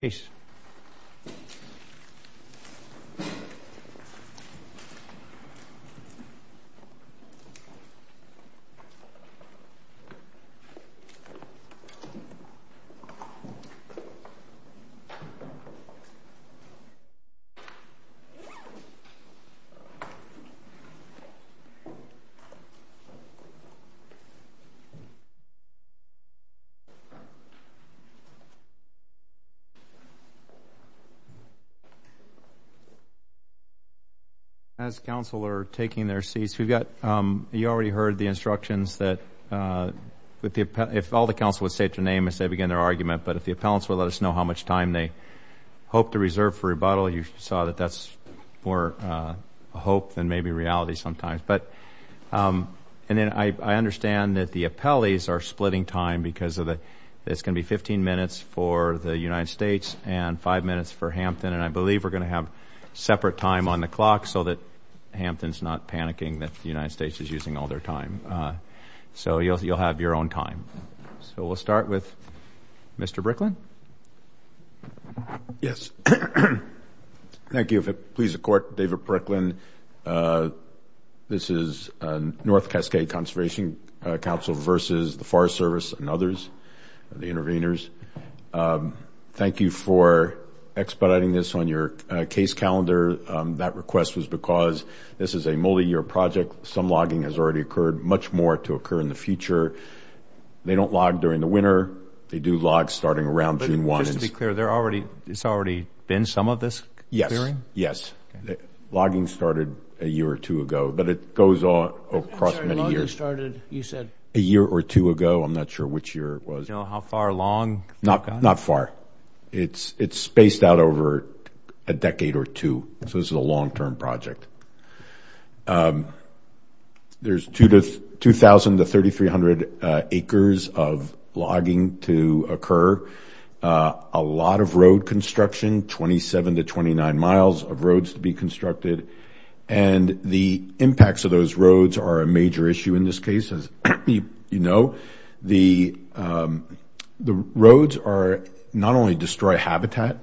Peace. As counsel are taking their seats, we've got, you already heard the instructions that if all the counsel would state their name as they begin their argument, but if the appellants would let us know how much time they hope to reserve for rebuttal, you saw that that's more hope than maybe reality sometimes. But, and then I understand that the appellees are splitting time because of the, it's going to be 15 minutes for the United States and five minutes for Hampton, and I believe we're going to have separate time on the clock so that Hampton's not panicking that the United States is using all their time. So you'll have your own time. So we'll start with Mr. Bricklin. Yes. Thank you, if it pleases the court, David Bricklin. This is North Cascade Conservation Council versus the Forest Service and others, the intervenors. Thank you for expediting this on your case calendar. That request was because this is a multi-year project. Some logging has already occurred, much more to occur in the future. They don't log during the winter. They do log starting around June 1. Just to be clear, there already, it's already been some of this clearing? Yes. Logging started a year or two ago, but it goes on across many years. Sorry, logging started, you said? A year or two ago. I'm not sure which year it was. Do you know how far along? Not far. It's spaced out over a decade or two, so this is a long-term project. There's 2,000 to 3,300 acres of logging to occur. A lot of road construction, 27 to 29 miles of roads to be constructed. The impacts of those roads are a major issue in this case, as you know. The roads not only destroy habitat,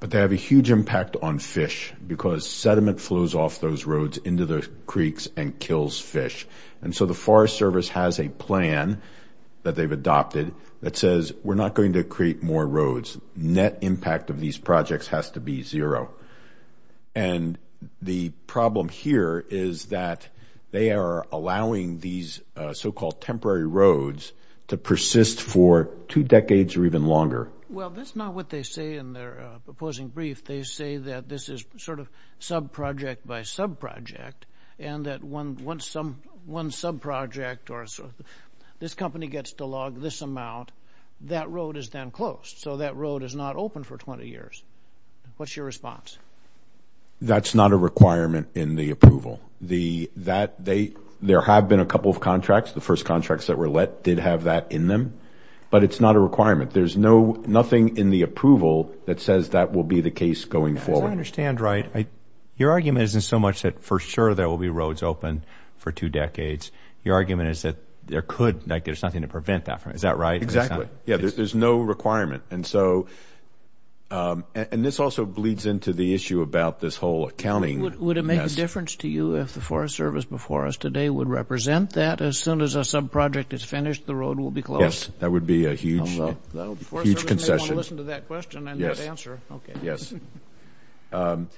but they have a huge impact on fish because sediment flows off those roads into the creeks and kills fish. The Forest Service has a plan that they've adopted that says, we're not going to create more roads. Net impact of these projects has to be zero. The problem here is that they are allowing these so-called temporary roads to persist for two decades or even longer. Well, that's not what they say in their proposing brief. They say that this is sort of sub-project by sub-project, and that once one sub-project or this company gets to log this amount, that road is then closed, so that road is not open for 20 years. What's your response? That's not a requirement in the approval. There have been a couple of contracts. The first contracts that were let did have that in them, but it's not a requirement. There's nothing in the approval that says that will be the case going forward. As I understand, right, your argument isn't so much that for sure there will be roads open for two decades. Your argument is that there could, like there's nothing to prevent that from happening. Is that right? Exactly. Yeah, there's no requirement. And so, and this also bleeds into the issue about this whole accounting. Would it make a difference to you if the Forest Service before us today would represent that? As soon as a sub-project is finished, the road will be closed? Yes. That would be a huge concession. Well, the Forest Service may want to listen to that question and not answer. Yes. Okay. Yes.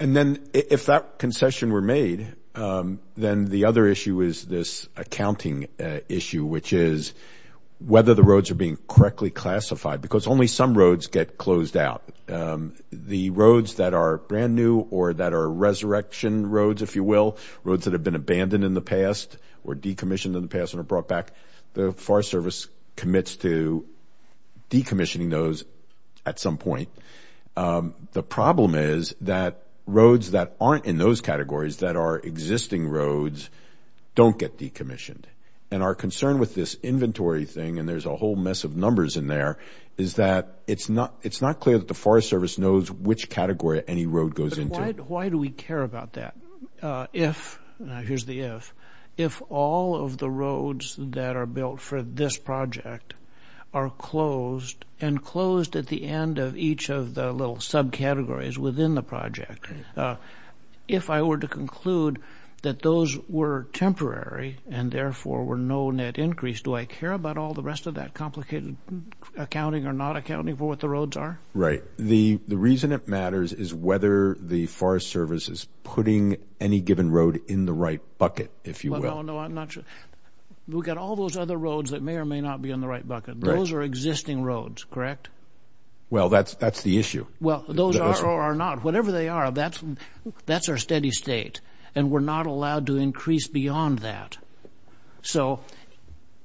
And then if that concession were made, then the other issue is this accounting issue, which is whether the roads are being correctly classified, because only some roads get closed out. The roads that are brand new or that are resurrection roads, if you will, roads that have been abandoned in the past or decommissioned in the past and are brought back, the Forest Service commits to decommissioning those at some point. The problem is that roads that aren't in those categories, that are existing roads, don't get decommissioned. And our concern with this inventory thing, and there's a whole mess of numbers in there, is that it's not clear that the Forest Service knows which category any road goes into. Why do we care about that if, now here's the if, if all of the roads that are built for this project are closed and closed at the end of each of the little subcategories within the project, if I were to conclude that those were temporary and therefore were no net increase, do I care about all the rest of that complicated accounting or not accounting for what the roads are? Right. So the reason it matters is whether the Forest Service is putting any given road in the right bucket, if you will. No, no, I'm not sure. We've got all those other roads that may or may not be in the right bucket. Those are existing roads, correct? Well that's the issue. Well those are or are not, whatever they are, that's our steady state. And we're not allowed to increase beyond that. So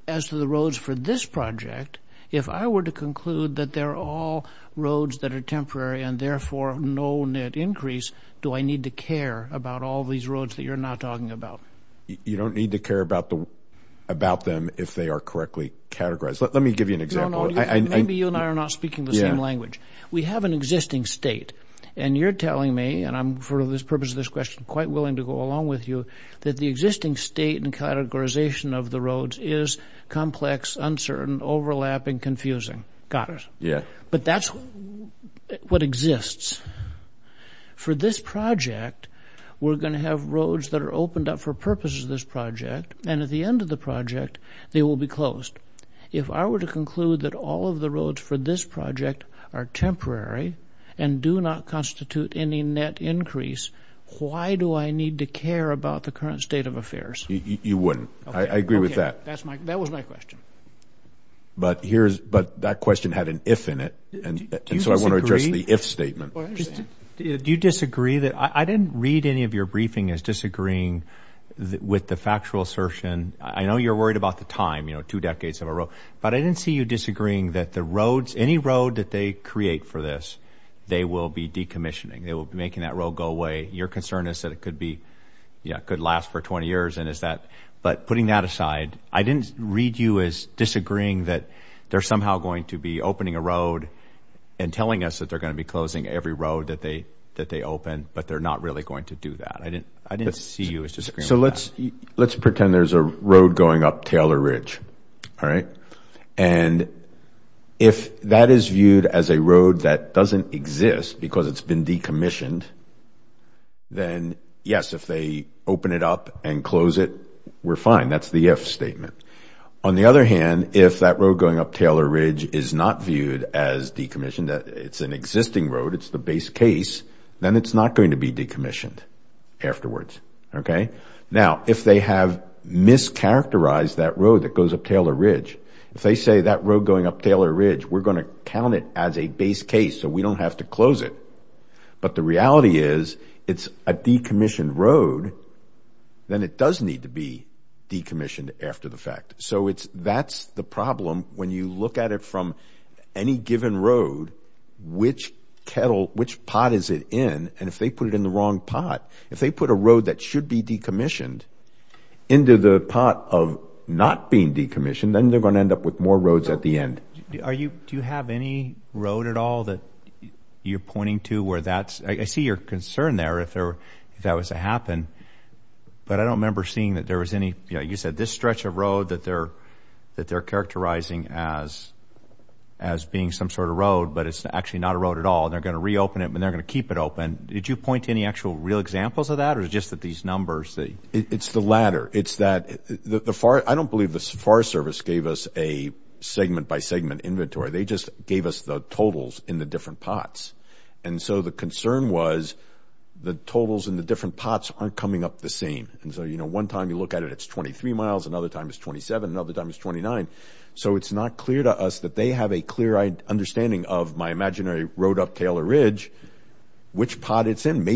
as to the roads for this project, if I were to conclude that they're all roads that are temporary and therefore no net increase, do I need to care about all these roads that you're not talking about? You don't need to care about them if they are correctly categorized. Let me give you an example. No, no, maybe you and I are not speaking the same language. We have an existing state and you're telling me, and I'm for the purpose of this question quite willing to go along with you, that the existing state and categorization of the roads is complex, uncertain, overlapping, confusing. Got it. But that's what exists. For this project, we're going to have roads that are opened up for purposes of this project and at the end of the project, they will be closed. If I were to conclude that all of the roads for this project are temporary and do not do I need to care about the current state of affairs? You wouldn't. I agree with that. Okay. That was my question. But that question had an if in it, and so I want to address the if statement. Do you disagree? I didn't read any of your briefing as disagreeing with the factual assertion. I know you're worried about the time, two decades in a row, but I didn't see you disagreeing that any road that they create for this, they will be decommissioning. They will be making that road go away. Your concern is that it could last for 20 years, but putting that aside, I didn't read you as disagreeing that they're somehow going to be opening a road and telling us that they're going to be closing every road that they open, but they're not really going to do that. I didn't see you as disagreeing with that. Let's pretend there's a road going up Taylor Ridge, and if that is viewed as a road that doesn't exist because it's been decommissioned, then yes, if they open it up and close it, we're fine. That's the if statement. On the other hand, if that road going up Taylor Ridge is not viewed as decommissioned, it's an existing road, it's the base case, then it's not going to be decommissioned afterwards. Okay? Now, if they have mischaracterized that road that goes up Taylor Ridge, if they say that road going up Taylor Ridge, we're going to count it as a base case, so we don't have to close it, but the reality is it's a decommissioned road, then it does need to be decommissioned after the fact. That's the problem when you look at it from any given road, which pot is it in, and if they put it in the wrong pot, if they put a road that should be decommissioned into the pot of not being decommissioned, then they're going to end up with more roads at the end. Do you have any road at all that you're pointing to where that's... I see your concern there if that was to happen, but I don't remember seeing that there was any... You said this stretch of road that they're characterizing as being some sort of road, but it's actually not a road at all. They're going to reopen it, and they're going to keep it open. Did you point to any actual real examples of that, or is it just that these numbers that... It's the latter. It's that... I don't believe the FAR service gave us a segment-by-segment inventory. They just gave us the totals in the different pots. The concern was the totals in the different pots aren't coming up the same. One time you look at it, it's 23 miles, another time it's 27, another time it's 29, so it's not clear to us that they have a clear understanding of my imaginary road up Taylor Ridge, which pot it's in. Then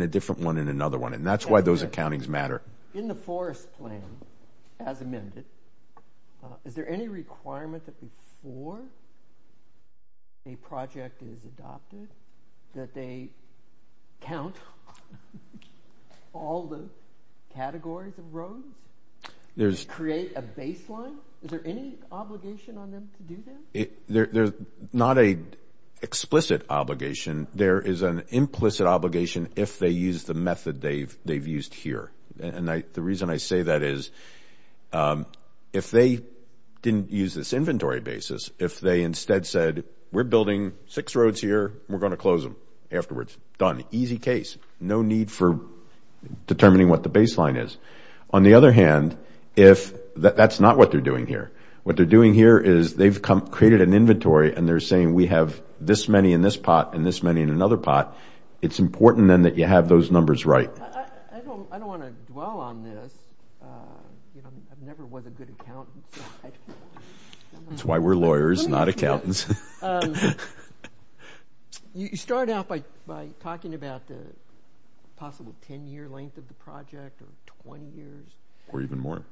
a different one, and another one, and that's why those accountings matter. In the forest plan, as amended, is there any requirement that before a project is adopted that they count all the categories of roads? Create a baseline? Is there any obligation on them to do that? There's not an explicit obligation. There is an implicit obligation if they use the method they've used here. The reason I say that is, if they didn't use this inventory basis, if they instead said, we're building six roads here, we're going to close them afterwards, done. Easy case. No need for determining what the baseline is. On the other hand, that's not what they're doing here. What they're doing here is they've created an inventory, and they're saying, we have this many in this pot, and this many in another pot, it's important then that you have those numbers right. I don't want to dwell on this. I've never been a good accountant. That's why we're lawyers, not accountants. You start out by talking about the possible 10-year length of the project, or 20 years. Or even more.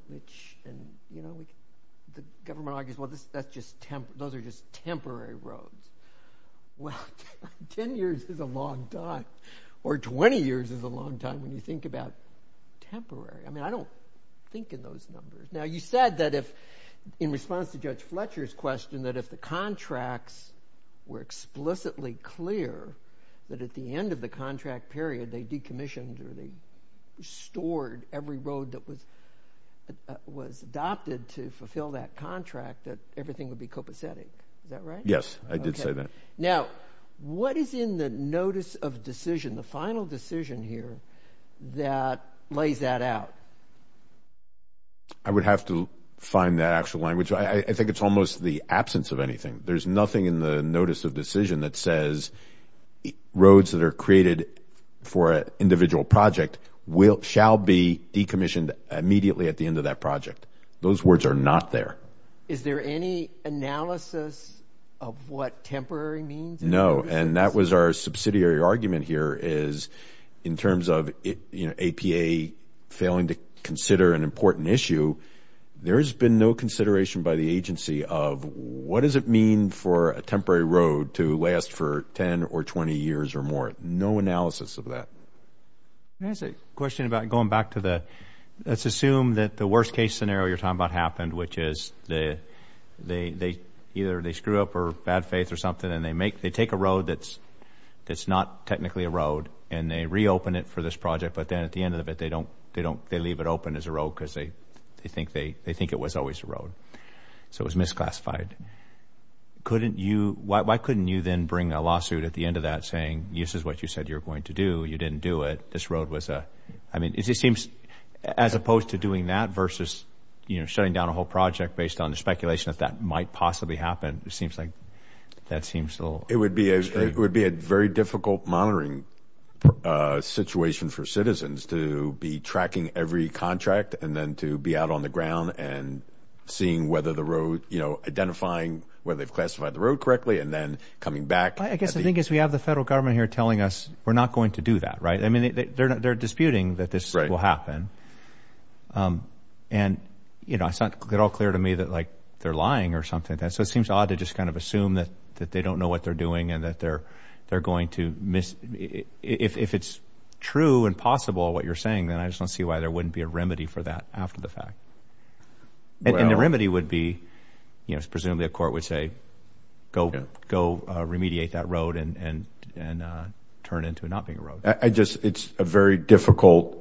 The government argues, those are just temporary roads. Well, 10 years is a long time, or 20 years is a long time when you think about temporary. I don't think in those numbers. You said that in response to Judge Fletcher's question, that if the contracts were explicitly clear, that at the end of the contract period, they decommissioned or they restored every was adopted to fulfill that contract, that everything would be copacetic. Is that right? Yes. I did say that. Now, what is in the notice of decision, the final decision here, that lays that out? I would have to find that actual language. I think it's almost the absence of anything. There's nothing in the notice of decision that says roads that are created for an individual project shall be decommissioned immediately at the end of that project. Those words are not there. Is there any analysis of what temporary means? No. That was our subsidiary argument here, is in terms of APA failing to consider an important issue, there's been no consideration by the agency of what does it mean for a temporary road to last for 10 or 20 years or more? But no analysis of that. I have a question about going back to the let's assume that the worst case scenario you're talking about happened, which is either they screw up or bad faith or something and they take a road that's not technically a road and they reopen it for this project, but then at the end of it, they leave it open as a road because they think it was always a road. So it was misclassified. Why couldn't you then bring a lawsuit at the end of that saying, this is what you said you were going to do, you didn't do it, this road was a... I mean, it seems as opposed to doing that versus shutting down a whole project based on the speculation that that might possibly happen, it seems like that seems a little... It would be a very difficult monitoring situation for citizens to be tracking every contract and then to be out on the ground and seeing whether the road, identifying whether they've classified the road correctly and then coming back. I guess the thing is we have the federal government here telling us we're not going to do that, right? I mean, they're disputing that this will happen. And it's not at all clear to me that they're lying or something like that, so it seems odd to just kind of assume that they don't know what they're doing and that they're going to miss... If it's true and possible what you're saying, then I just don't see why there would be a need to do that after the fact. And the remedy would be, presumably a court would say, go remediate that road and turn into it not being a road. It's a very difficult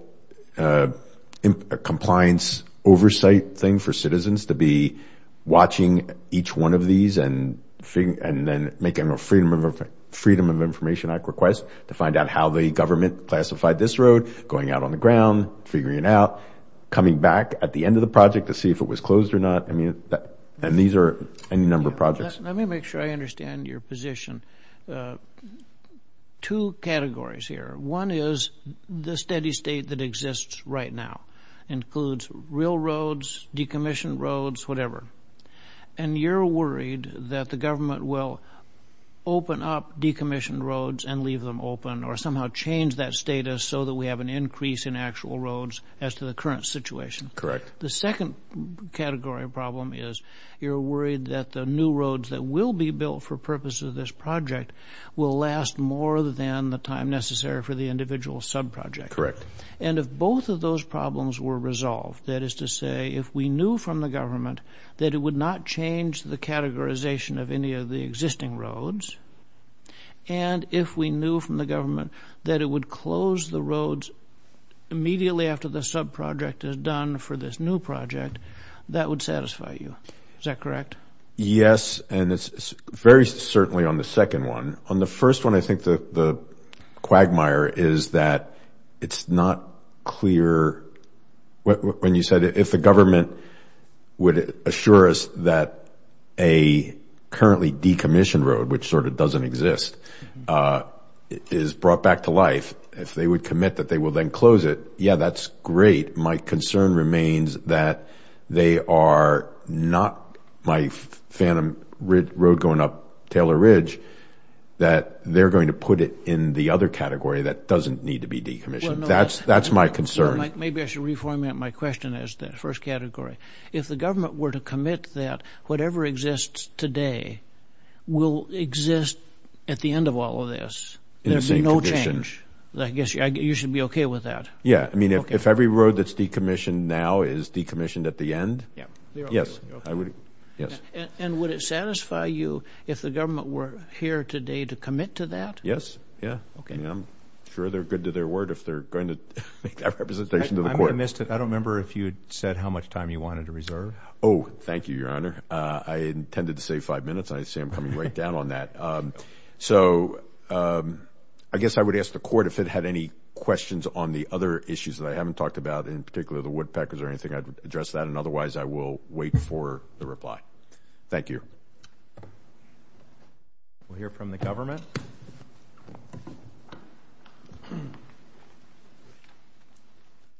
compliance oversight thing for citizens to be watching each one of these and then making a Freedom of Information Act request to find out how the government classified this road, going out on the ground, figuring it out, coming back at the end of the project to see if it was closed or not. And these are any number of projects. Let me make sure I understand your position. Two categories here. One is the steady state that exists right now, includes railroads, decommissioned roads, whatever. And you're worried that the government will open up decommissioned roads and leave them open or somehow change that status so that we have an increase in actual roads as to the current situation. Correct. The second category of problem is you're worried that the new roads that will be built for purpose of this project will last more than the time necessary for the individual subproject. Correct. And if both of those problems were resolved, that is to say, if we knew from the government that it would not change the categorization of any of the existing roads, and if we knew from the government that it would close the roads immediately after the subproject is done for this new project, that would satisfy you. Is that correct? Yes. And it's very certainly on the second one. On the first one, I think the quagmire is that it's not clear. When you said if the government would assure us that a currently decommissioned road, which sort of doesn't exist, is brought back to life, if they would commit that they will then close it, yeah, that's great. My concern remains that they are not my phantom road going up Taylor Ridge, that they're going to put it in the other category that doesn't need to be decommissioned. That's my concern. Maybe I should reformat my question as the first category. If the government were to commit that whatever exists today will exist at the end of all of this. There would be no change. I guess you should be okay with that. Yeah. I mean, if every road that's decommissioned now is decommissioned at the end, yes. And would it satisfy you if the government were here today to commit to that? Yes. Yeah. Okay. I'm sure they're good to their word if they're going to make that representation to the court. I missed it. I don't remember if you said how much time you wanted to reserve. Oh, thank you, Your Honor. I intended to say five minutes. I see I'm coming right down on that. So I guess I would ask the court if it had any questions on the other issues that I haven't talked about, in particular, the woodpeckers or anything, I'd address that and otherwise I will wait for the reply. Thank you. We'll hear from the government.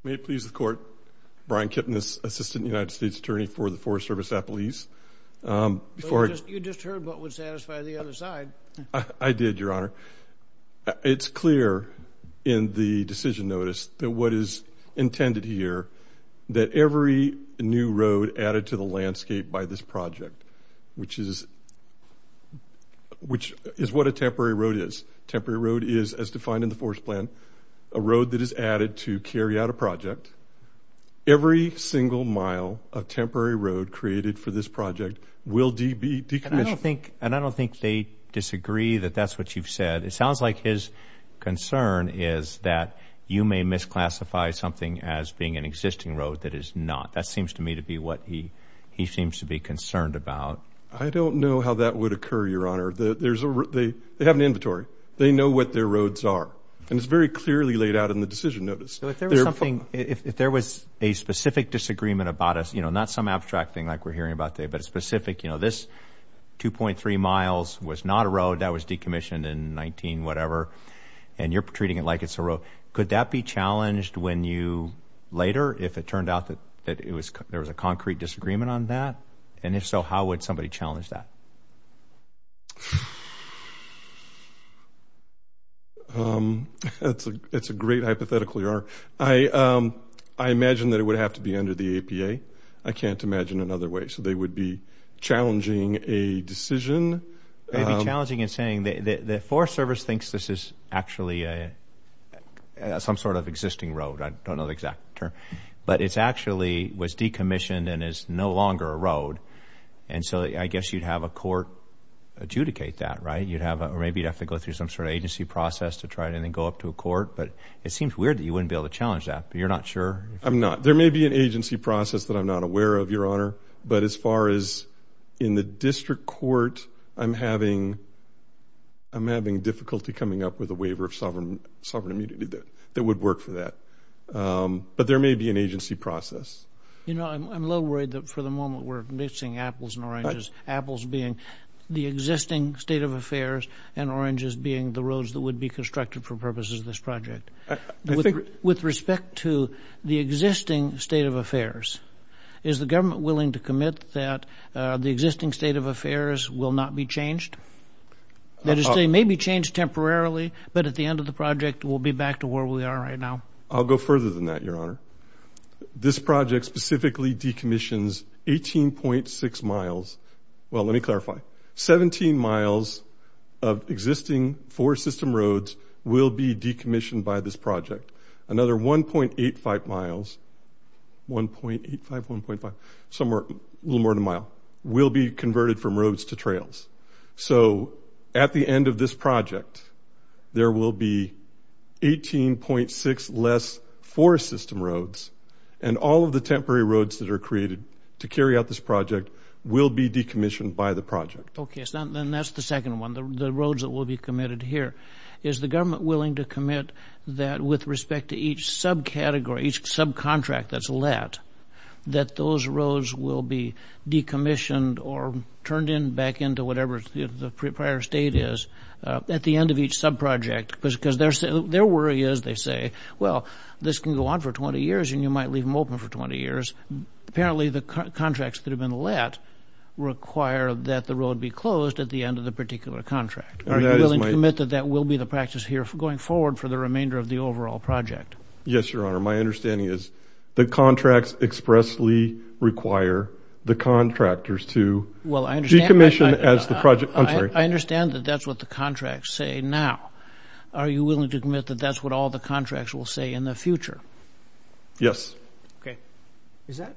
May it please the court, Brian Kipnis, Assistant United States Attorney for the Forest Service Appellees. You just heard what would satisfy the other side. I did, Your Honor. It's clear in the decision notice that what is intended here, that every new road added to the landscape by this project, which is what a temporary road is, temporary road is, as defined in the forest plan, a road that is added to carry out a project, every single mile of temporary road created for this project will be decommissioned. And I don't think they disagree that that's what you've said. It sounds like his concern is that you may misclassify something as being an existing road that is not. That seems to me to be what he seems to be concerned about. I don't know how that would occur, Your Honor. They have an inventory. They know what their roads are. And it's very clearly laid out in the decision notice. If there was a specific disagreement about us, not some abstract thing like we're hearing about today, but a specific, you know, this 2.3 miles was not a road that was decommissioned in 19-whatever, and you're treating it like it's a road, could that be challenged when you later, if it turned out that there was a concrete disagreement on that? And if so, how would somebody challenge that? It's a great hypothetical, Your Honor. I imagine that it would have to be under the APA. I can't imagine another way. So they would be challenging a decision. They'd be challenging and saying the Forest Service thinks this is actually some sort of existing road. I don't know the exact term. But it's actually was decommissioned and is no longer a road. And so I guess you'd have a court adjudicate that, right? You'd have a, or maybe you'd have to go through some sort of agency process to try it and then go up to a court. But it seems weird that you wouldn't be able to challenge that, but you're not sure. I'm not. There may be an agency process that I'm not aware of, Your Honor. But as far as in the district court, I'm having, I'm having difficulty coming up with a waiver of sovereign immunity that would work for that. But there may be an agency process. You know, I'm a little worried that for the moment we're mixing apples and oranges, apples being the existing state of affairs and oranges being the roads that would be constructed for purposes of this project. With respect to the existing state of affairs, is the government willing to commit that the existing state of affairs will not be changed? That is, they may be changed temporarily, but at the end of the project, we'll be back to where we are right now. I'll go further than that, Your Honor. This project specifically decommissions 18.6 miles, well, let me clarify, 17 miles of existing four system roads will be decommissioned by this project. Another 1.85 miles, 1.85, 1.5, somewhere, a little more than a mile, will be converted from roads to trails. So at the end of this project, there will be 18.6 less four system roads, and all of the temporary roads that are created to carry out this project will be decommissioned by the project. Okay, so then that's the second one, the roads that will be committed here. Is the government willing to commit that with respect to each subcategory, each subcontract that's let, that those roads will be decommissioned or turned back into whatever the prior state is at the end of each subproject, because their worry is, they say, well, this can go on for 20 years, and you might leave them open for 20 years. Apparently, the contracts that have been let require that the road be closed at the end of the particular contract. Are you willing to commit that that will be the practice here going forward for the remainder of the overall project? Yes, Your Honor. My understanding is the contracts expressly require the contractors to decommission as the project. I'm sorry. I understand that that's what the contracts say now. Are you willing to commit that that's what all the contracts will say in the future? Yes. Okay. Is that,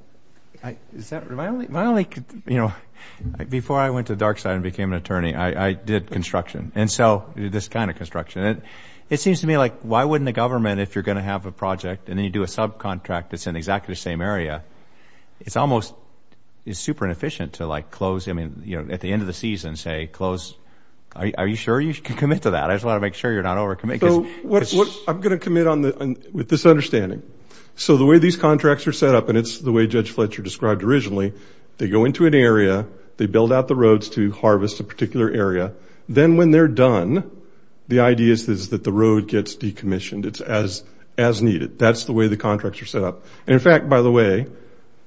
is that, my only, my only, you know, before I went to the dark side and became an attorney, I did construction, and so this kind of construction. It seems to me like, why wouldn't the government, if you're going to have a project, and then you do a subcontract that's in exactly the same area, it's almost, it's super inefficient to like close, I mean, you know, at the end of the season, say, close, are you sure you can commit to that? I just want to make sure you're not over committing. I'm going to commit on the, with this understanding. So the way these contracts are set up, and it's the way Judge Fletcher described originally, they go into an area, they build out the roads to harvest a particular area. Then when they're done, the idea is that the road gets decommissioned. It's as, as needed. That's the way the contracts are set up. And in fact, by the way,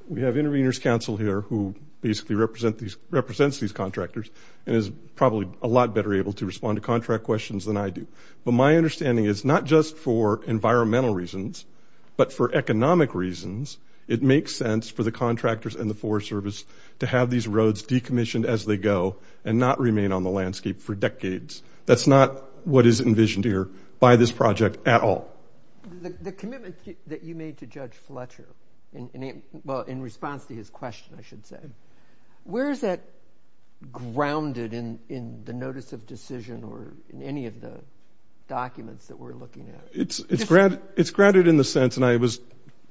we have intervenors counsel here who basically represent these, represents these contractors, and is probably a lot better able to respond to contract questions than I do. But my understanding is not just for environmental reasons, but for economic reasons, it makes sense for the contractors and the Forest Service to have these roads decommissioned as they go, and not remain on the landscape for decades. That's not what is envisioned here by this project at all. The commitment that you made to Judge Fletcher, in response to his question, I should say, where is that grounded in the notice of decision or in any of the documents that we're looking at? It's grounded in the sense, and I was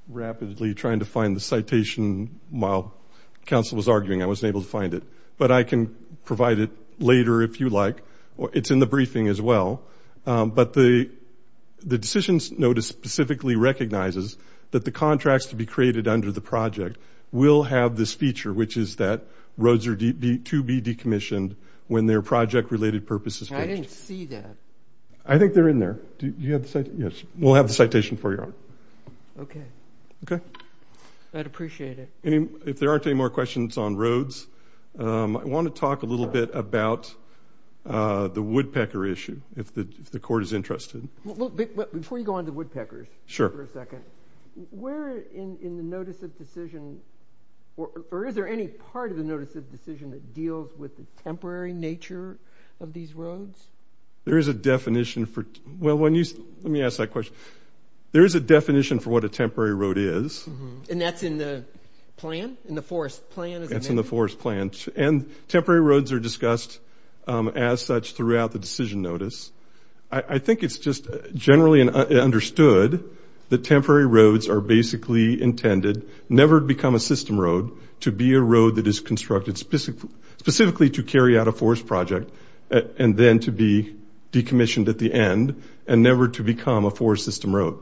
rapidly trying to find the citation while counsel was arguing. I wasn't able to find it. But I can provide it later if you like. It's in the briefing as well. But the decisions notice specifically recognizes that the contracts to be created under the project will have this feature, which is that roads are to be decommissioned when their project-related purpose is finished. I didn't see that. I think they're in there. Do you have the citation? Yes. We'll have the citation for you. Okay. Okay. I'd appreciate it. If there aren't any more questions on roads, I want to talk a little bit about the woodpecker issue if the court is interested. Before you go on to woodpeckers for a second, where in the notice of decision, or is there any part of the notice of decision that deals with the temporary nature of these roads? There is a definition for, well, let me ask that question. There is a definition for what a temporary road is. That's in the plan? In the forest plan? That's in the forest plan. Temporary roads are discussed as such throughout the decision notice. I think it's just generally understood that temporary roads are basically intended, never become a system road, to be a road that is constructed specifically to carry out a forest project and then to be decommissioned at the end and never to become a forest system road.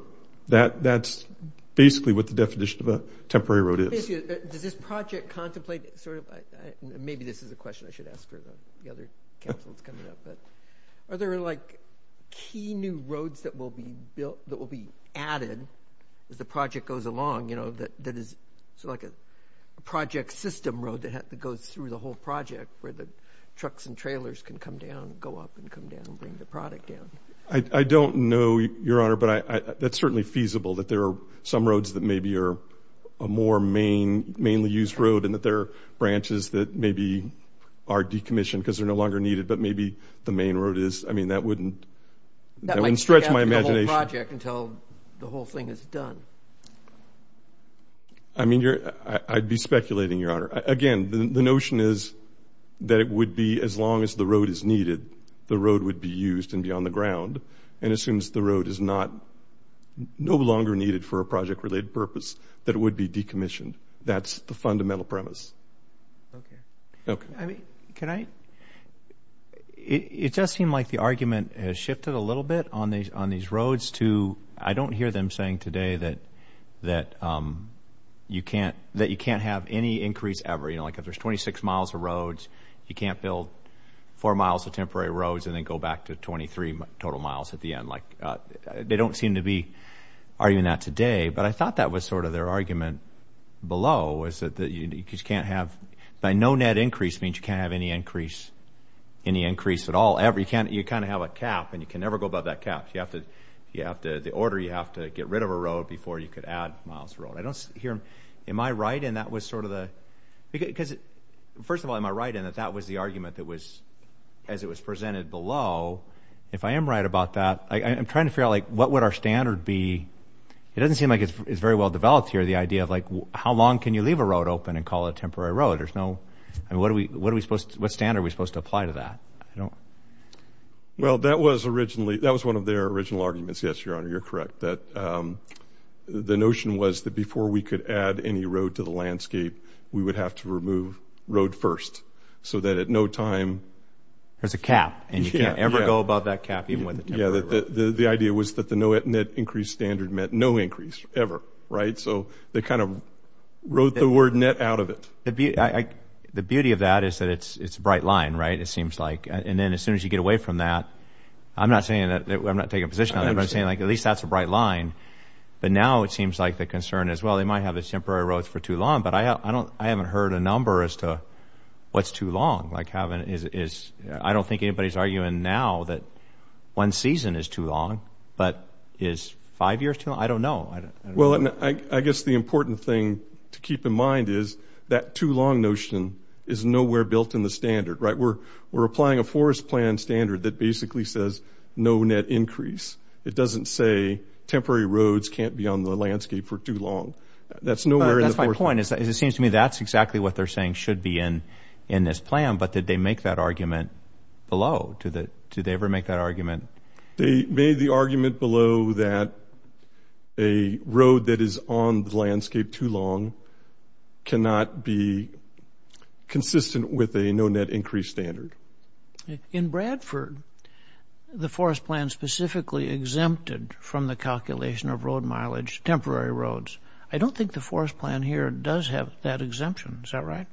That's basically what the definition of a temporary road is. Basically, does this project contemplate, sort of, maybe this is a question I should ask for the other council that's coming up, but are there like key new roads that will be added as the project goes along, you know, that is sort of like a project system road that goes through the whole project where the trucks and trailers can come down, go up and come down and bring the product down? I don't know, Your Honor, but that's certainly feasible that there are some roads that maybe are a more mainly used road and that there are branches that maybe are decommissioned because they're no longer needed, but maybe the main road is. I mean, that wouldn't stretch my imagination. That might take out the whole project until the whole thing is done. I mean, I'd be speculating, Your Honor. Again, the notion is that it would be as long as the road is needed, the road would be used and be on the ground, and as soon as the road is not, no longer needed for a project-related purpose, that it would be decommissioned. That's the fundamental premise. Okay. Okay. I mean, can I? It does seem like the argument has shifted a little bit on these roads to, I don't hear them saying today that you can't have any increase ever, you know, like if there's 26 miles of roads, you can't build 4 miles of temporary roads and then go back to 23 total miles at the end. Like, they don't seem to be arguing that today, but I thought that was sort of their argument below was that you just can't have, by no net increase means you can't have any increase, any increase at all. You can't, you kind of have a cap and you can never go above that cap. You have to, you have to, the order, you have to get rid of a road before you could add miles of road. I don't hear, am I right in that was sort of the, because, first of all, am I right in that that was the argument that was, as it was presented below? If I am right about that, I'm trying to figure out like, what would our standard be? It doesn't seem like it's very well developed here, the idea of like, how long can you leave a road open and call it a temporary road? There's no, I mean, what are we, what are we supposed to, what standard are we supposed to apply to that? I don't. Well, that was originally, that was one of their original arguments, yes, Your Honor, you're correct, that the notion was that before we could add any road to the landscape, we would have to remove road first, so that at no time, there's a cap and you can't ever go above that cap even when the temporary road. The idea was that the no net increase standard meant no increase ever, right? So they kind of wrote the word net out of it. The beauty of that is that it's, it's a bright line, right? It seems like, and then as soon as you get away from that, I'm not saying that I'm not taking a position on that, but I'm saying like, at least that's a bright line, but now it seems like the concern as well, they might have this temporary roads for too long, but I haven't heard a number as to what's too long, like having, is, I don't think anybody's arguing now that one season is too long, but is five years too long? I don't know. Well, I guess the important thing to keep in mind is that too long notion is nowhere built in the standard, right? We're applying a forest plan standard that basically says no net increase. It doesn't say temporary roads can't be on the landscape for too long. That's nowhere in the forest. That's my point. It seems to me that's exactly what they're saying should be in, in this plan. But did they make that argument below to the, did they ever make that argument? They made the argument below that a road that is on the landscape too long cannot be consistent with a no net increase standard. In Bradford, the forest plan specifically exempted from the calculation of road mileage, temporary roads. I don't think the forest plan here does have that exemption, is that right?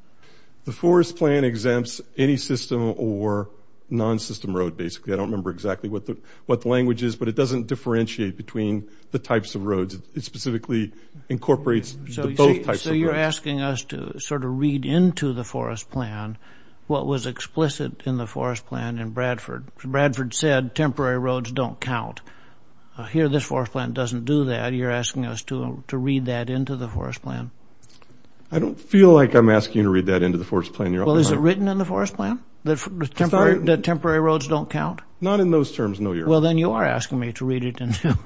The forest plan exempts any system or non-system road, basically. I don't remember exactly what the, what the language is, but it doesn't differentiate It specifically incorporates both types of roads. So you're asking us to sort of read into the forest plan what was explicit in the forest plan in Bradford. Bradford said temporary roads don't count. Here this forest plan doesn't do that. You're asking us to, to read that into the forest plan. I don't feel like I'm asking you to read that into the forest plan, Your Honor. Well, is it written in the forest plan that temporary, that temporary roads don't count? Not in those terms, no, Your Honor. Well, then you are asking me to read it into.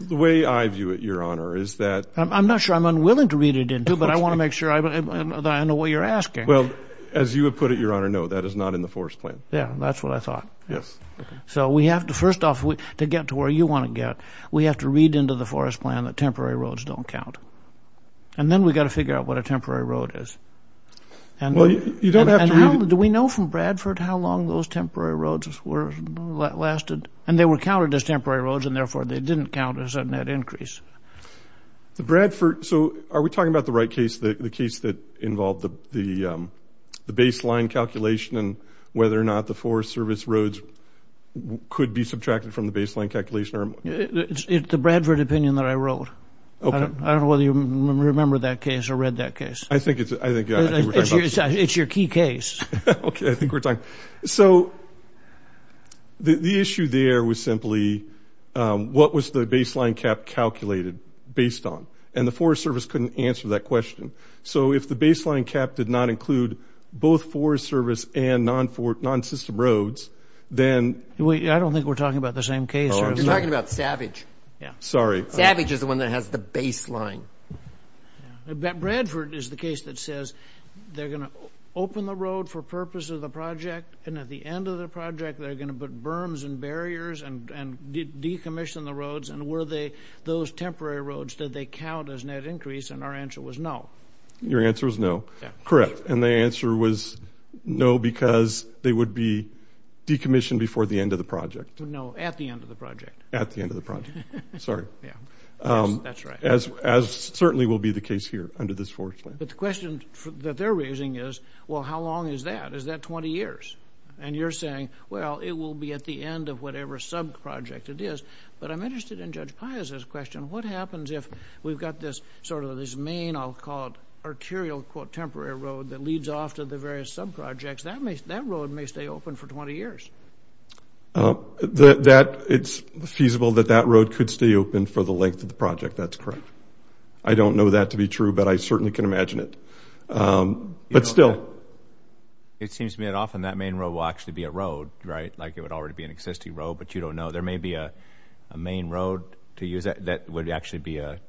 The way I view it, Your Honor, is that. I'm not sure I'm unwilling to read it into, but I want to make sure I know what you're asking. Well, as you have put it, Your Honor, no, that is not in the forest plan. Yeah, that's what I thought. Yes. So we have to, first off, to get to where you want to get, we have to read into the forest plan that temporary roads don't count. And then we've got to figure out what a temporary road is. And do we know from Bradford how long those temporary roads lasted? And they were counted as temporary roads, and therefore they didn't count as a net increase. The Bradford, so are we talking about the right case, the case that involved the baseline calculation and whether or not the Forest Service roads could be subtracted from the baseline calculation? It's the Bradford opinion that I wrote. Okay. I don't know whether you remember that case or read that case. I think it's, I think, yeah. It's your key case. Okay. I think we're talking. So the issue there was simply what was the baseline cap calculated based on? And the Forest Service couldn't answer that question. So if the baseline cap did not include both Forest Service and non-system roads, then Wait, I don't think we're talking about the same case. Oh, you're talking about Savage. Yeah. Sorry. Savage is the one that has the baseline. Bradford is the case that says they're going to open the road for purpose of the project, and at the end of the project, they're going to put berms and barriers and decommission the roads. And were they, those temporary roads, did they count as net increase? And our answer was no. Your answer was no. Yeah. Correct. And the answer was no because they would be decommissioned before the end of the project. No, at the end of the project. At the end of the project. Sorry. Yeah. That's right. As certainly will be the case here under this forest plan. But the question that they're raising is, well, how long is that? Is that 20 years? And you're saying, well, it will be at the end of whatever sub-project it is. But I'm interested in Judge Piazza's question. What happens if we've got this sort of this main, I'll call it, arterial, quote, temporary road that leads off to the various sub-projects, that road may stay open for 20 years. That, it's feasible that that road could stay open for the length of the project. That's correct. I don't know that to be true, but I certainly can imagine it. But still. It seems to me that often that main road will actually be a road, right? Like it would already be an existing road, but you don't know. There may be a main road to use that would actually be a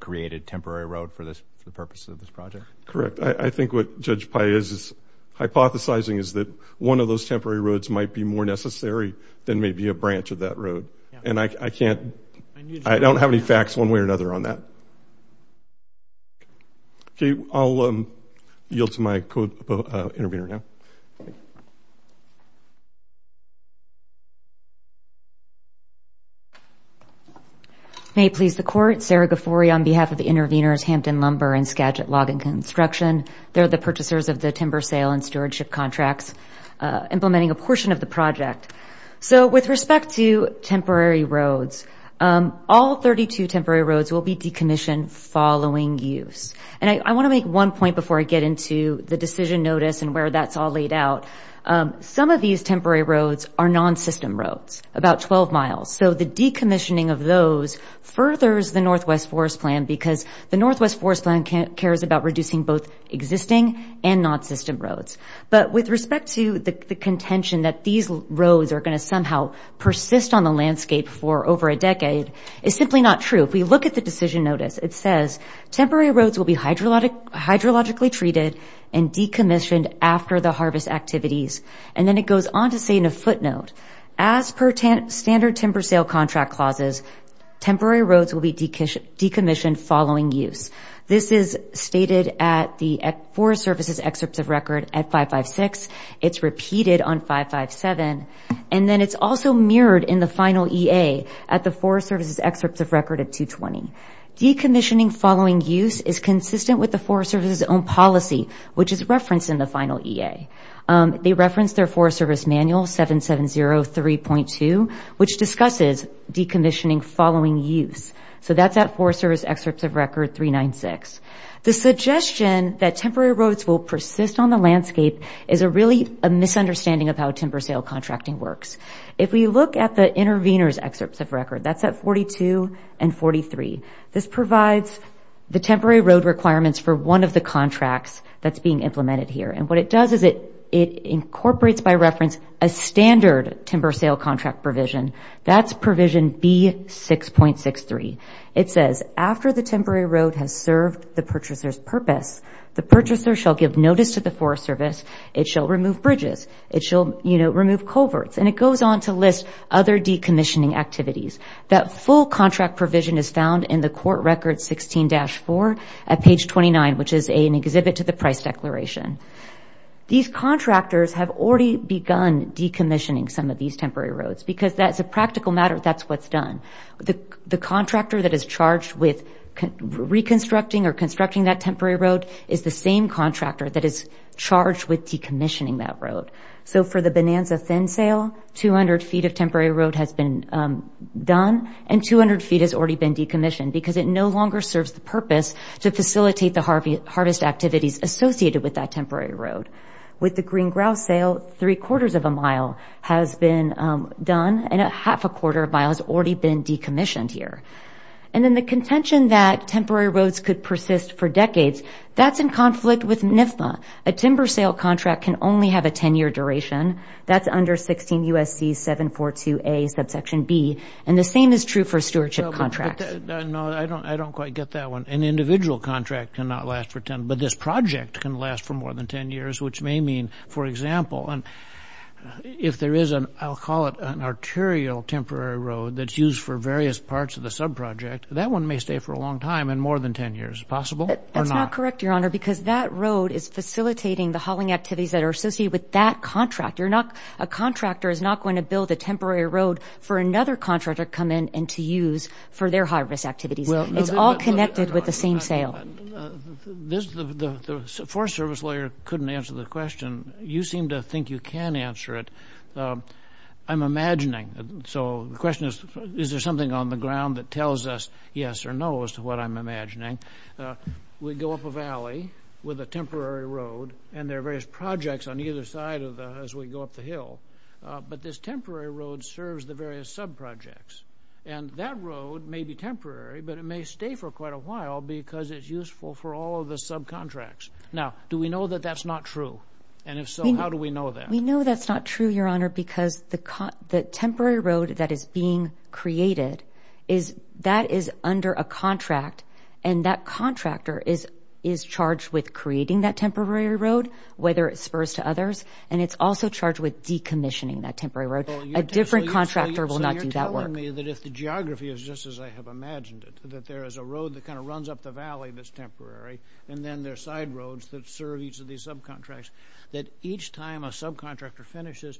created temporary road for the purpose of this project. Correct. I think what Judge Piazza's hypothesizing is that one of those temporary roads might be more necessary than maybe a branch of that road. And I can't, I don't have any facts one way or another on that. Okay, I'll yield to my co-intervener now. May it please the Court, Sarah Gafori on behalf of the interveners Hampton Lumber and Skagit Log and Construction. They're the purchasers of the timber sale and stewardship contracts implementing a portion of the project. So with respect to temporary roads, all 32 temporary roads will be decommissioned following use. And I want to make one point before I get into the decision notice and where that's all laid out. Some of these temporary roads are non-system roads, about 12 miles. about reducing both existing and non-system roads. But with respect to the contention that these roads are going to somehow persist on the landscape for over a decade, it's simply not true. If we look at the decision notice, it says temporary roads will be hydrologically treated and decommissioned after the harvest activities. And then it goes on to say in a footnote, as per standard timber sale contract clauses, temporary roads will be decommissioned following use. This is stated at the Forest Service's excerpts of record at 556. It's repeated on 557. And then it's also mirrored in the final EA at the Forest Service's excerpts of record at 220. Decommissioning following use is consistent with the Forest Service's own policy, which is referenced in the final EA. They reference their Forest Service manual, 7703.2, which discusses decommissioning following use. So that's at Forest Service excerpts of record 396. The suggestion that temporary roads will persist on the landscape is really a misunderstanding of how timber sale contracting works. If we look at the intervener's excerpts of record, that's at 42 and 43. This provides the temporary road requirements for one of the contracts that's being implemented here. And what it does is it incorporates by reference a standard timber sale contract provision. That's provision B6.63. It says, after the temporary road has served the purchaser's purpose, the purchaser shall give notice to the Forest Service. It shall remove bridges. It shall, you know, remove culverts. And it goes on to list other decommissioning activities. That full contract provision is found in the court record 16-4 at page 29, which is an exhibit to the price declaration. These contractors have already begun decommissioning some of these temporary roads because that's a practical matter. That's what's done. The contractor that is charged with reconstructing or constructing that temporary road is the same contractor that is charged with decommissioning that road. So for the Bonanza Thin Sale, 200 feet of temporary road has been done and 200 feet has already been decommissioned because it no longer serves the purpose to facilitate the harvest activities associated with that temporary road. With the Green Grouse Sale, three quarters of a mile has been done and a half a quarter of a mile has already been decommissioned here. And then the contention that temporary roads could persist for decades, that's in conflict with NIFMA. A timber sale contract can only have a 10-year duration. That's under 16 U.S.C. 742A, subsection B. And the same is true for stewardship contracts. No, I don't quite get that one. An individual contract cannot last for 10, but this project can last for more than 10 years, which may mean, for example, if there is an, I'll call it an arterial temporary road that's used for various parts of the subproject, that one may stay for a long time and more than 10 years. Is it possible or not? That's not correct, Your Honor, because that road is facilitating the hauling activities that are associated with that contractor. A contractor is not going to build a temporary road for another contractor to come in and to use for their harvest activities. It's all connected with the same sale. The Forest Service lawyer couldn't answer the question. You seem to think you can answer it. I'm imagining. So, the question is, is there something on the ground that tells us yes or no as to what I'm imagining? We go up a valley with a temporary road, and there are various projects on either side of the, as we go up the hill, but this temporary road serves the various subprojects. And that road may be temporary, but it may stay for quite a while because it's useful for all of the subcontracts. Now, do we know that that's not true? And if so, how do we know that? We know that's not true, Your Honor, because the temporary road that is being created is, that is under a contract, and that contractor is charged with creating that temporary road, whether it spurs to others, and it's also charged with decommissioning that temporary road. A different contractor will not do that work. So, you're telling me that if the geography is just as I have imagined it, that there is a road that kind of runs up the valley that's temporary, and then there are side roads that serve each of these subcontracts, that each time a subcontractor finishes,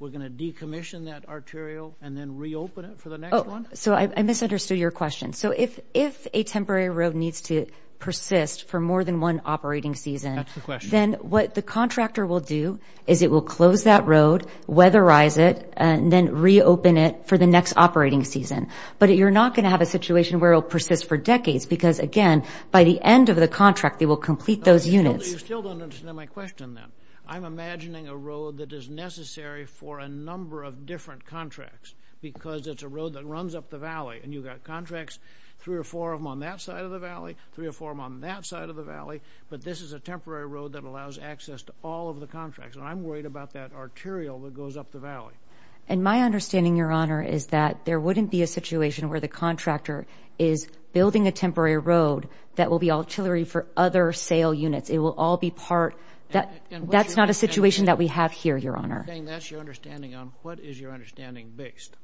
we're going to decommission that arterial and then reopen it for the next one? So I misunderstood your question. So if a temporary road needs to persist for more than one operating season, then what the contractor will do is it will close that road, weatherize it, and then reopen it for the next operating season. But you're not going to have a situation where it will persist for decades because, again, by the end of the contract, they will complete those units. You still don't understand my question, then. I'm imagining a road that is necessary for a number of different contracts because it's a road that runs up the valley, and you've got contracts, three or four of them on that side of the valley, three or four of them on that side of the valley, but this is a temporary road that allows access to all of the contracts, and I'm worried about that arterial that goes up the valley. And my understanding, Your Honor, is that there wouldn't be a situation where the contractor is building a temporary road that will be artillery for other sale units. It will all be part — that's not a situation that we have here, Your Honor. And that's your understanding on — what is your understanding based?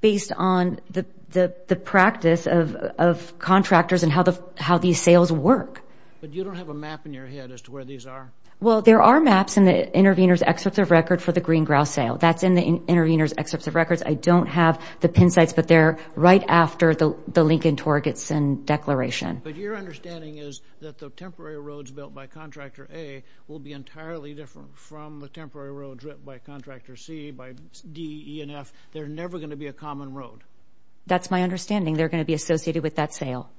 Based on the practice of contractors and how these sales work. But you don't have a map in your head as to where these are? Well, there are maps in the intervener's excerpts of record for the Green Grouse Sale. That's in the intervener's excerpts of records. I don't have the pin sites, but they're right after the Lincoln-Torgetson Declaration. But your understanding is that the temporary roads built by Contractor A will be entirely different from the temporary roads built by Contractor C, by D, E, and F? They're never going to be a common road? That's my understanding. They're going to be associated with that sale.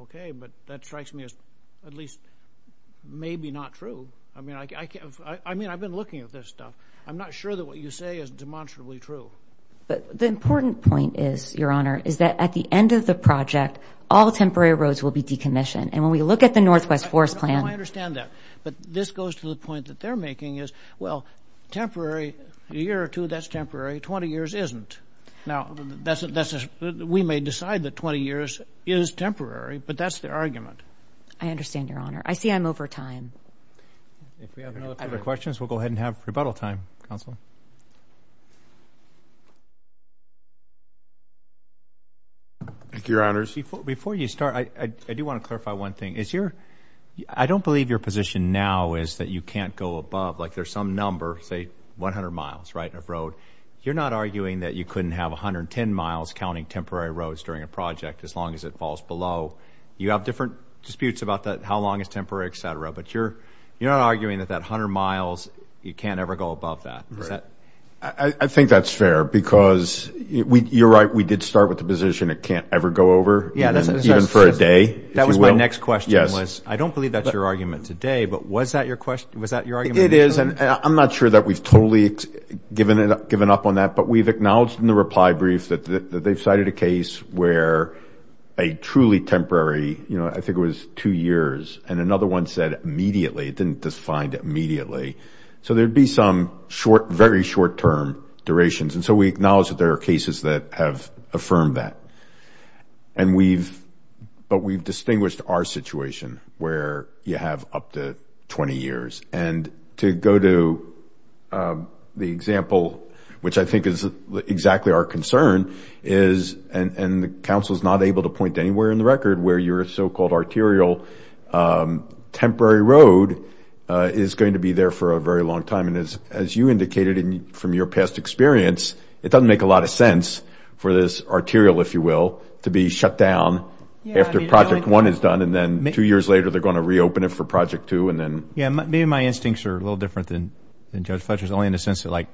Okay, but that strikes me as at least maybe not true. I mean, I can't — I mean, I've been looking at this stuff. I'm not sure that what you say is demonstrably true. But the important point is, Your Honor, is that at the end of the project, all temporary roads will be decommissioned. And when we look at the Northwest Forest Plan — I understand that. But this goes to the point that they're making is, well, temporary — a year or two, that's temporary. Twenty years isn't. Now, that's — we may decide that 20 years is temporary, but that's their argument. I understand, Your Honor. I see I'm over time. If we have no further questions, we'll go ahead and have rebuttal time. Counsel? Thank you, Your Honors. Before you start, I do want to clarify one thing. Is your — I don't believe your position now is that you can't go above — like, there's some number, say, 100 miles, right, of road. You're not arguing that you couldn't have 110 miles counting temporary roads during a project as long as it falls below. You have different disputes about that — how long is temporary, et cetera. But you're not arguing that that 100 miles, you can't ever go above that. Is that — I think that's fair, because you're right. We did start with the position it can't ever go over, even for a day, if you will. That was my next question, was — I don't believe that's your argument today, but was that your question? Was that your argument? It is. And I'm not sure that we've totally given up on that, but we've acknowledged in the reply brief that they've cited a case where a truly temporary — you know, I think it was two years, and another one said immediately, it didn't define immediately. So there'd be some short — very short-term durations. And so we acknowledge that there are cases that have affirmed that. And we've — but we've distinguished our situation, where you have up to 20 years. And to go to the example, which I think is exactly our concern, is — and the council's not able to point anywhere in the record — where your so-called arterial temporary road is going to be there for a very long time. And as you indicated from your past experience, it doesn't make a lot of sense for this arterial, if you will, to be shut down after Project 1 is done, and then two years later, they're going to reopen it for Project 2, and then — Yeah. Maybe my instincts are a little different than Judge Fletcher's, only in the sense that, like,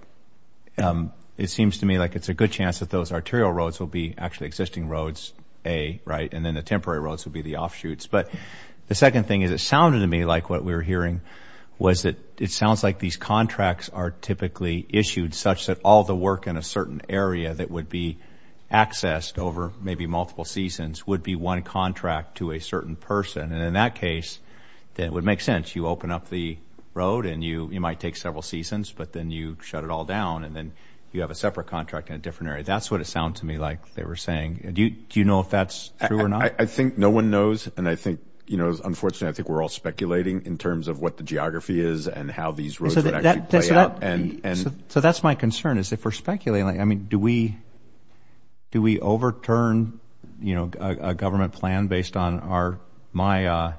it seems to me like it's a good chance that those arterial roads will be actually the existing roads, A, right, and then the temporary roads will be the offshoots. But the second thing is, it sounded to me like what we were hearing was that it sounds like these contracts are typically issued such that all the work in a certain area that would be accessed over maybe multiple seasons would be one contract to a certain person. And in that case, it would make sense. You open up the road, and you might take several seasons, but then you shut it all down, and then you have a separate contract in a different area. That's what it sounded to me like they were saying. Do you know if that's true or not? I think no one knows, and I think, you know, unfortunately, I think we're all speculating in terms of what the geography is and how these roads would actually play out. So that's my concern, is if we're speculating, I mean, do we overturn, you know, a government plan based on my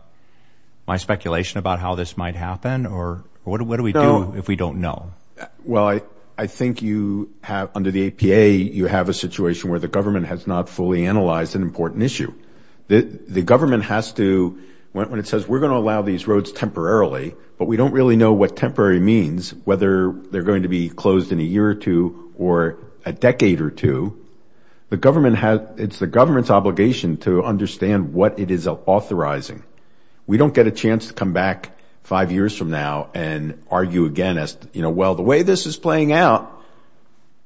speculation about how this might happen, or what do we do if we don't know? Well, I think you have, under the APA, you have a situation where the government has not fully analyzed an important issue. The government has to, when it says, we're going to allow these roads temporarily, but we don't really know what temporary means, whether they're going to be closed in a year or two or a decade or two, the government has, it's the government's obligation to understand what it is authorizing. We don't get a chance to come back five years from now and argue again as, you know, well, the way this is playing out,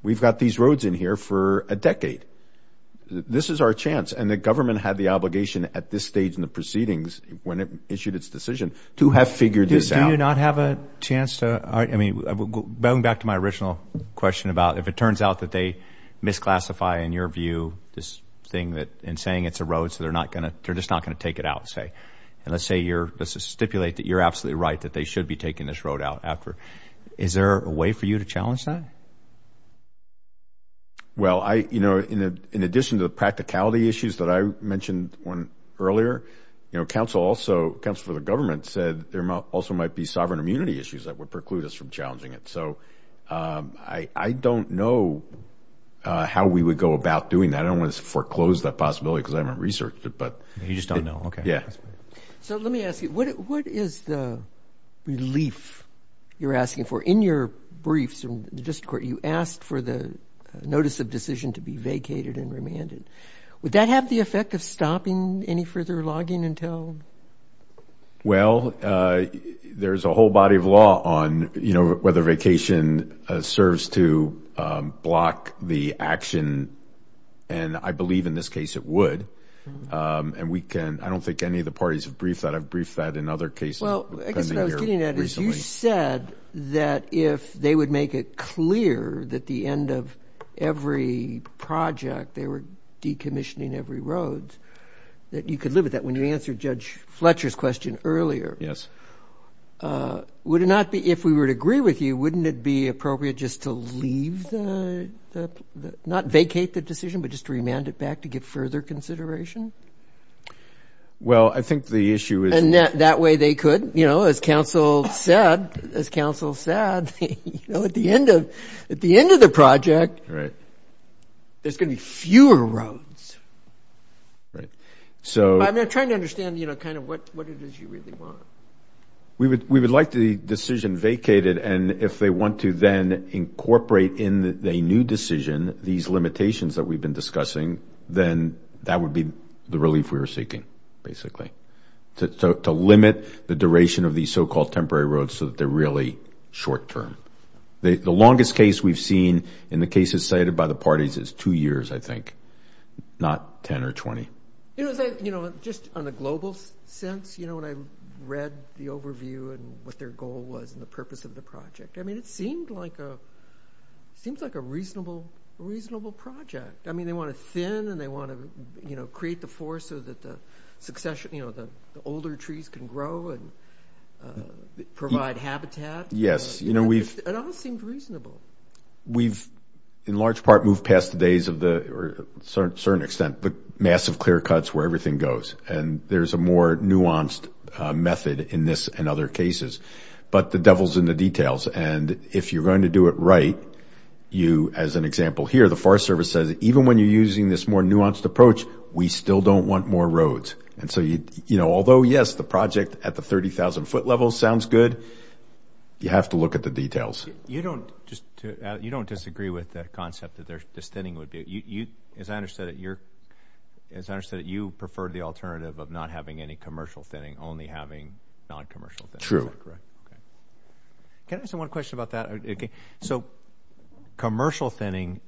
we've got these roads in here for a decade. This is our chance, and the government had the obligation at this stage in the proceedings when it issued its decision to have figured this out. Do you not have a chance to, I mean, going back to my original question about if it turns out that they misclassify, in your view, this thing that in saying it's a road, so they're not going to, they're just not going to take it out, say, and let's say you're, let's stipulate that you're absolutely right, that they should be taking this road out after. Is there a way for you to challenge that? Well, I, you know, in addition to the practicality issues that I mentioned earlier, you know, counsel also, counsel for the government said there also might be sovereign immunity issues that would preclude us from challenging it, so I don't know how we would go about doing that. I mean, I don't want to foreclose that possibility because I haven't researched it, but... You just don't know. Okay. Yeah. So let me ask you, what is the relief you're asking for? In your briefs in the district court, you asked for the notice of decision to be vacated and remanded. Would that have the effect of stopping any further logging until... And I believe in this case it would, and we can, I don't think any of the parties have briefed that. I've briefed that in other cases. Well, I guess what I was getting at is you said that if they would make it clear that the end of every project, they were decommissioning every road, that you could live with that. When you answered Judge Fletcher's question earlier, would it not be, if we would agree with you, wouldn't it be appropriate just to leave the, not vacate the decision, but just remand it back to get further consideration? Well, I think the issue is... That way they could, as counsel said, at the end of the project, there's going to be fewer roads. Right. So... I'm trying to understand what it is you really want. We would like the decision vacated, and if they want to then incorporate in a new decision these limitations that we've been discussing, then that would be the relief we were seeking, basically. To limit the duration of these so-called temporary roads so that they're really short-term. The longest case we've seen in the cases cited by the parties is two years, I think, not 10 or 20. You know, just on a global sense, when I read the overview and what their goal was and the reasonable project. I mean, they want to thin, and they want to, you know, create the forest so that the succession, you know, the older trees can grow and provide habitat. Yes. You know, we've... It all seemed reasonable. We've, in large part, moved past the days of the, to a certain extent, the massive clear cuts where everything goes. And there's a more nuanced method in this and other cases. But the devil's in the details. And if you're going to do it right, you, as an example here, the Forest Service says, even when you're using this more nuanced approach, we still don't want more roads. And so, you know, although, yes, the project at the 30,000-foot level sounds good, you have to look at the details. You don't just... You don't disagree with that concept that the thinning would be... As I understand it, you're... As I understand it, you prefer the alternative of not having any commercial thinning, only having non-commercial thinning. True. Correct. Can I ask one question about that? So commercial thinning,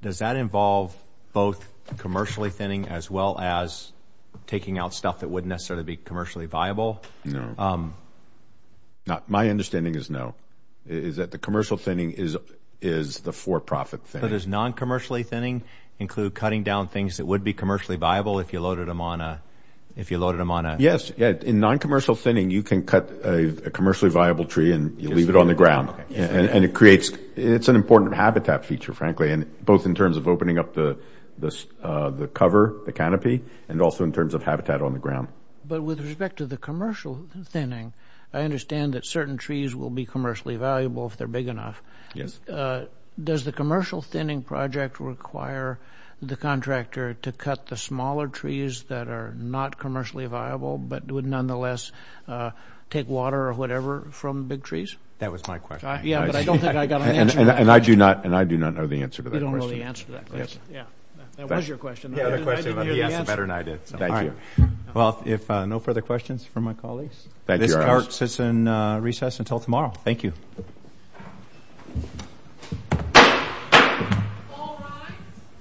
does that involve both commercially thinning as well as taking out stuff that wouldn't necessarily be commercially viable? No. Not... My understanding is no. Is that the commercial thinning is the for-profit thinning. So does non-commercially thinning include cutting down things that would be commercially viable if you loaded them on a... If you loaded them on a... Yes. In non-commercial thinning, you can cut a commercially viable tree and you leave it on the ground. Okay. And it creates... It's an important habitat feature, frankly, both in terms of opening up the cover, the canopy, and also in terms of habitat on the ground. But with respect to the commercial thinning, I understand that certain trees will be commercially valuable if they're big enough. Yes. Does the commercial thinning project require the contractor to cut the smaller trees that are not commercially viable, but would nonetheless take water or whatever from big trees? That was my question. Yeah, but I don't think I got an answer to that question. And I do not know the answer to that question. You don't know the answer to that question? Yes. Yeah. That was your question, though. Yeah, the question... I didn't hear the answer. He asked it better than I did, so thank you. All right. Well, if... No further questions for my colleagues? Thank you very much. This clerk sits in recess until tomorrow. Thank you.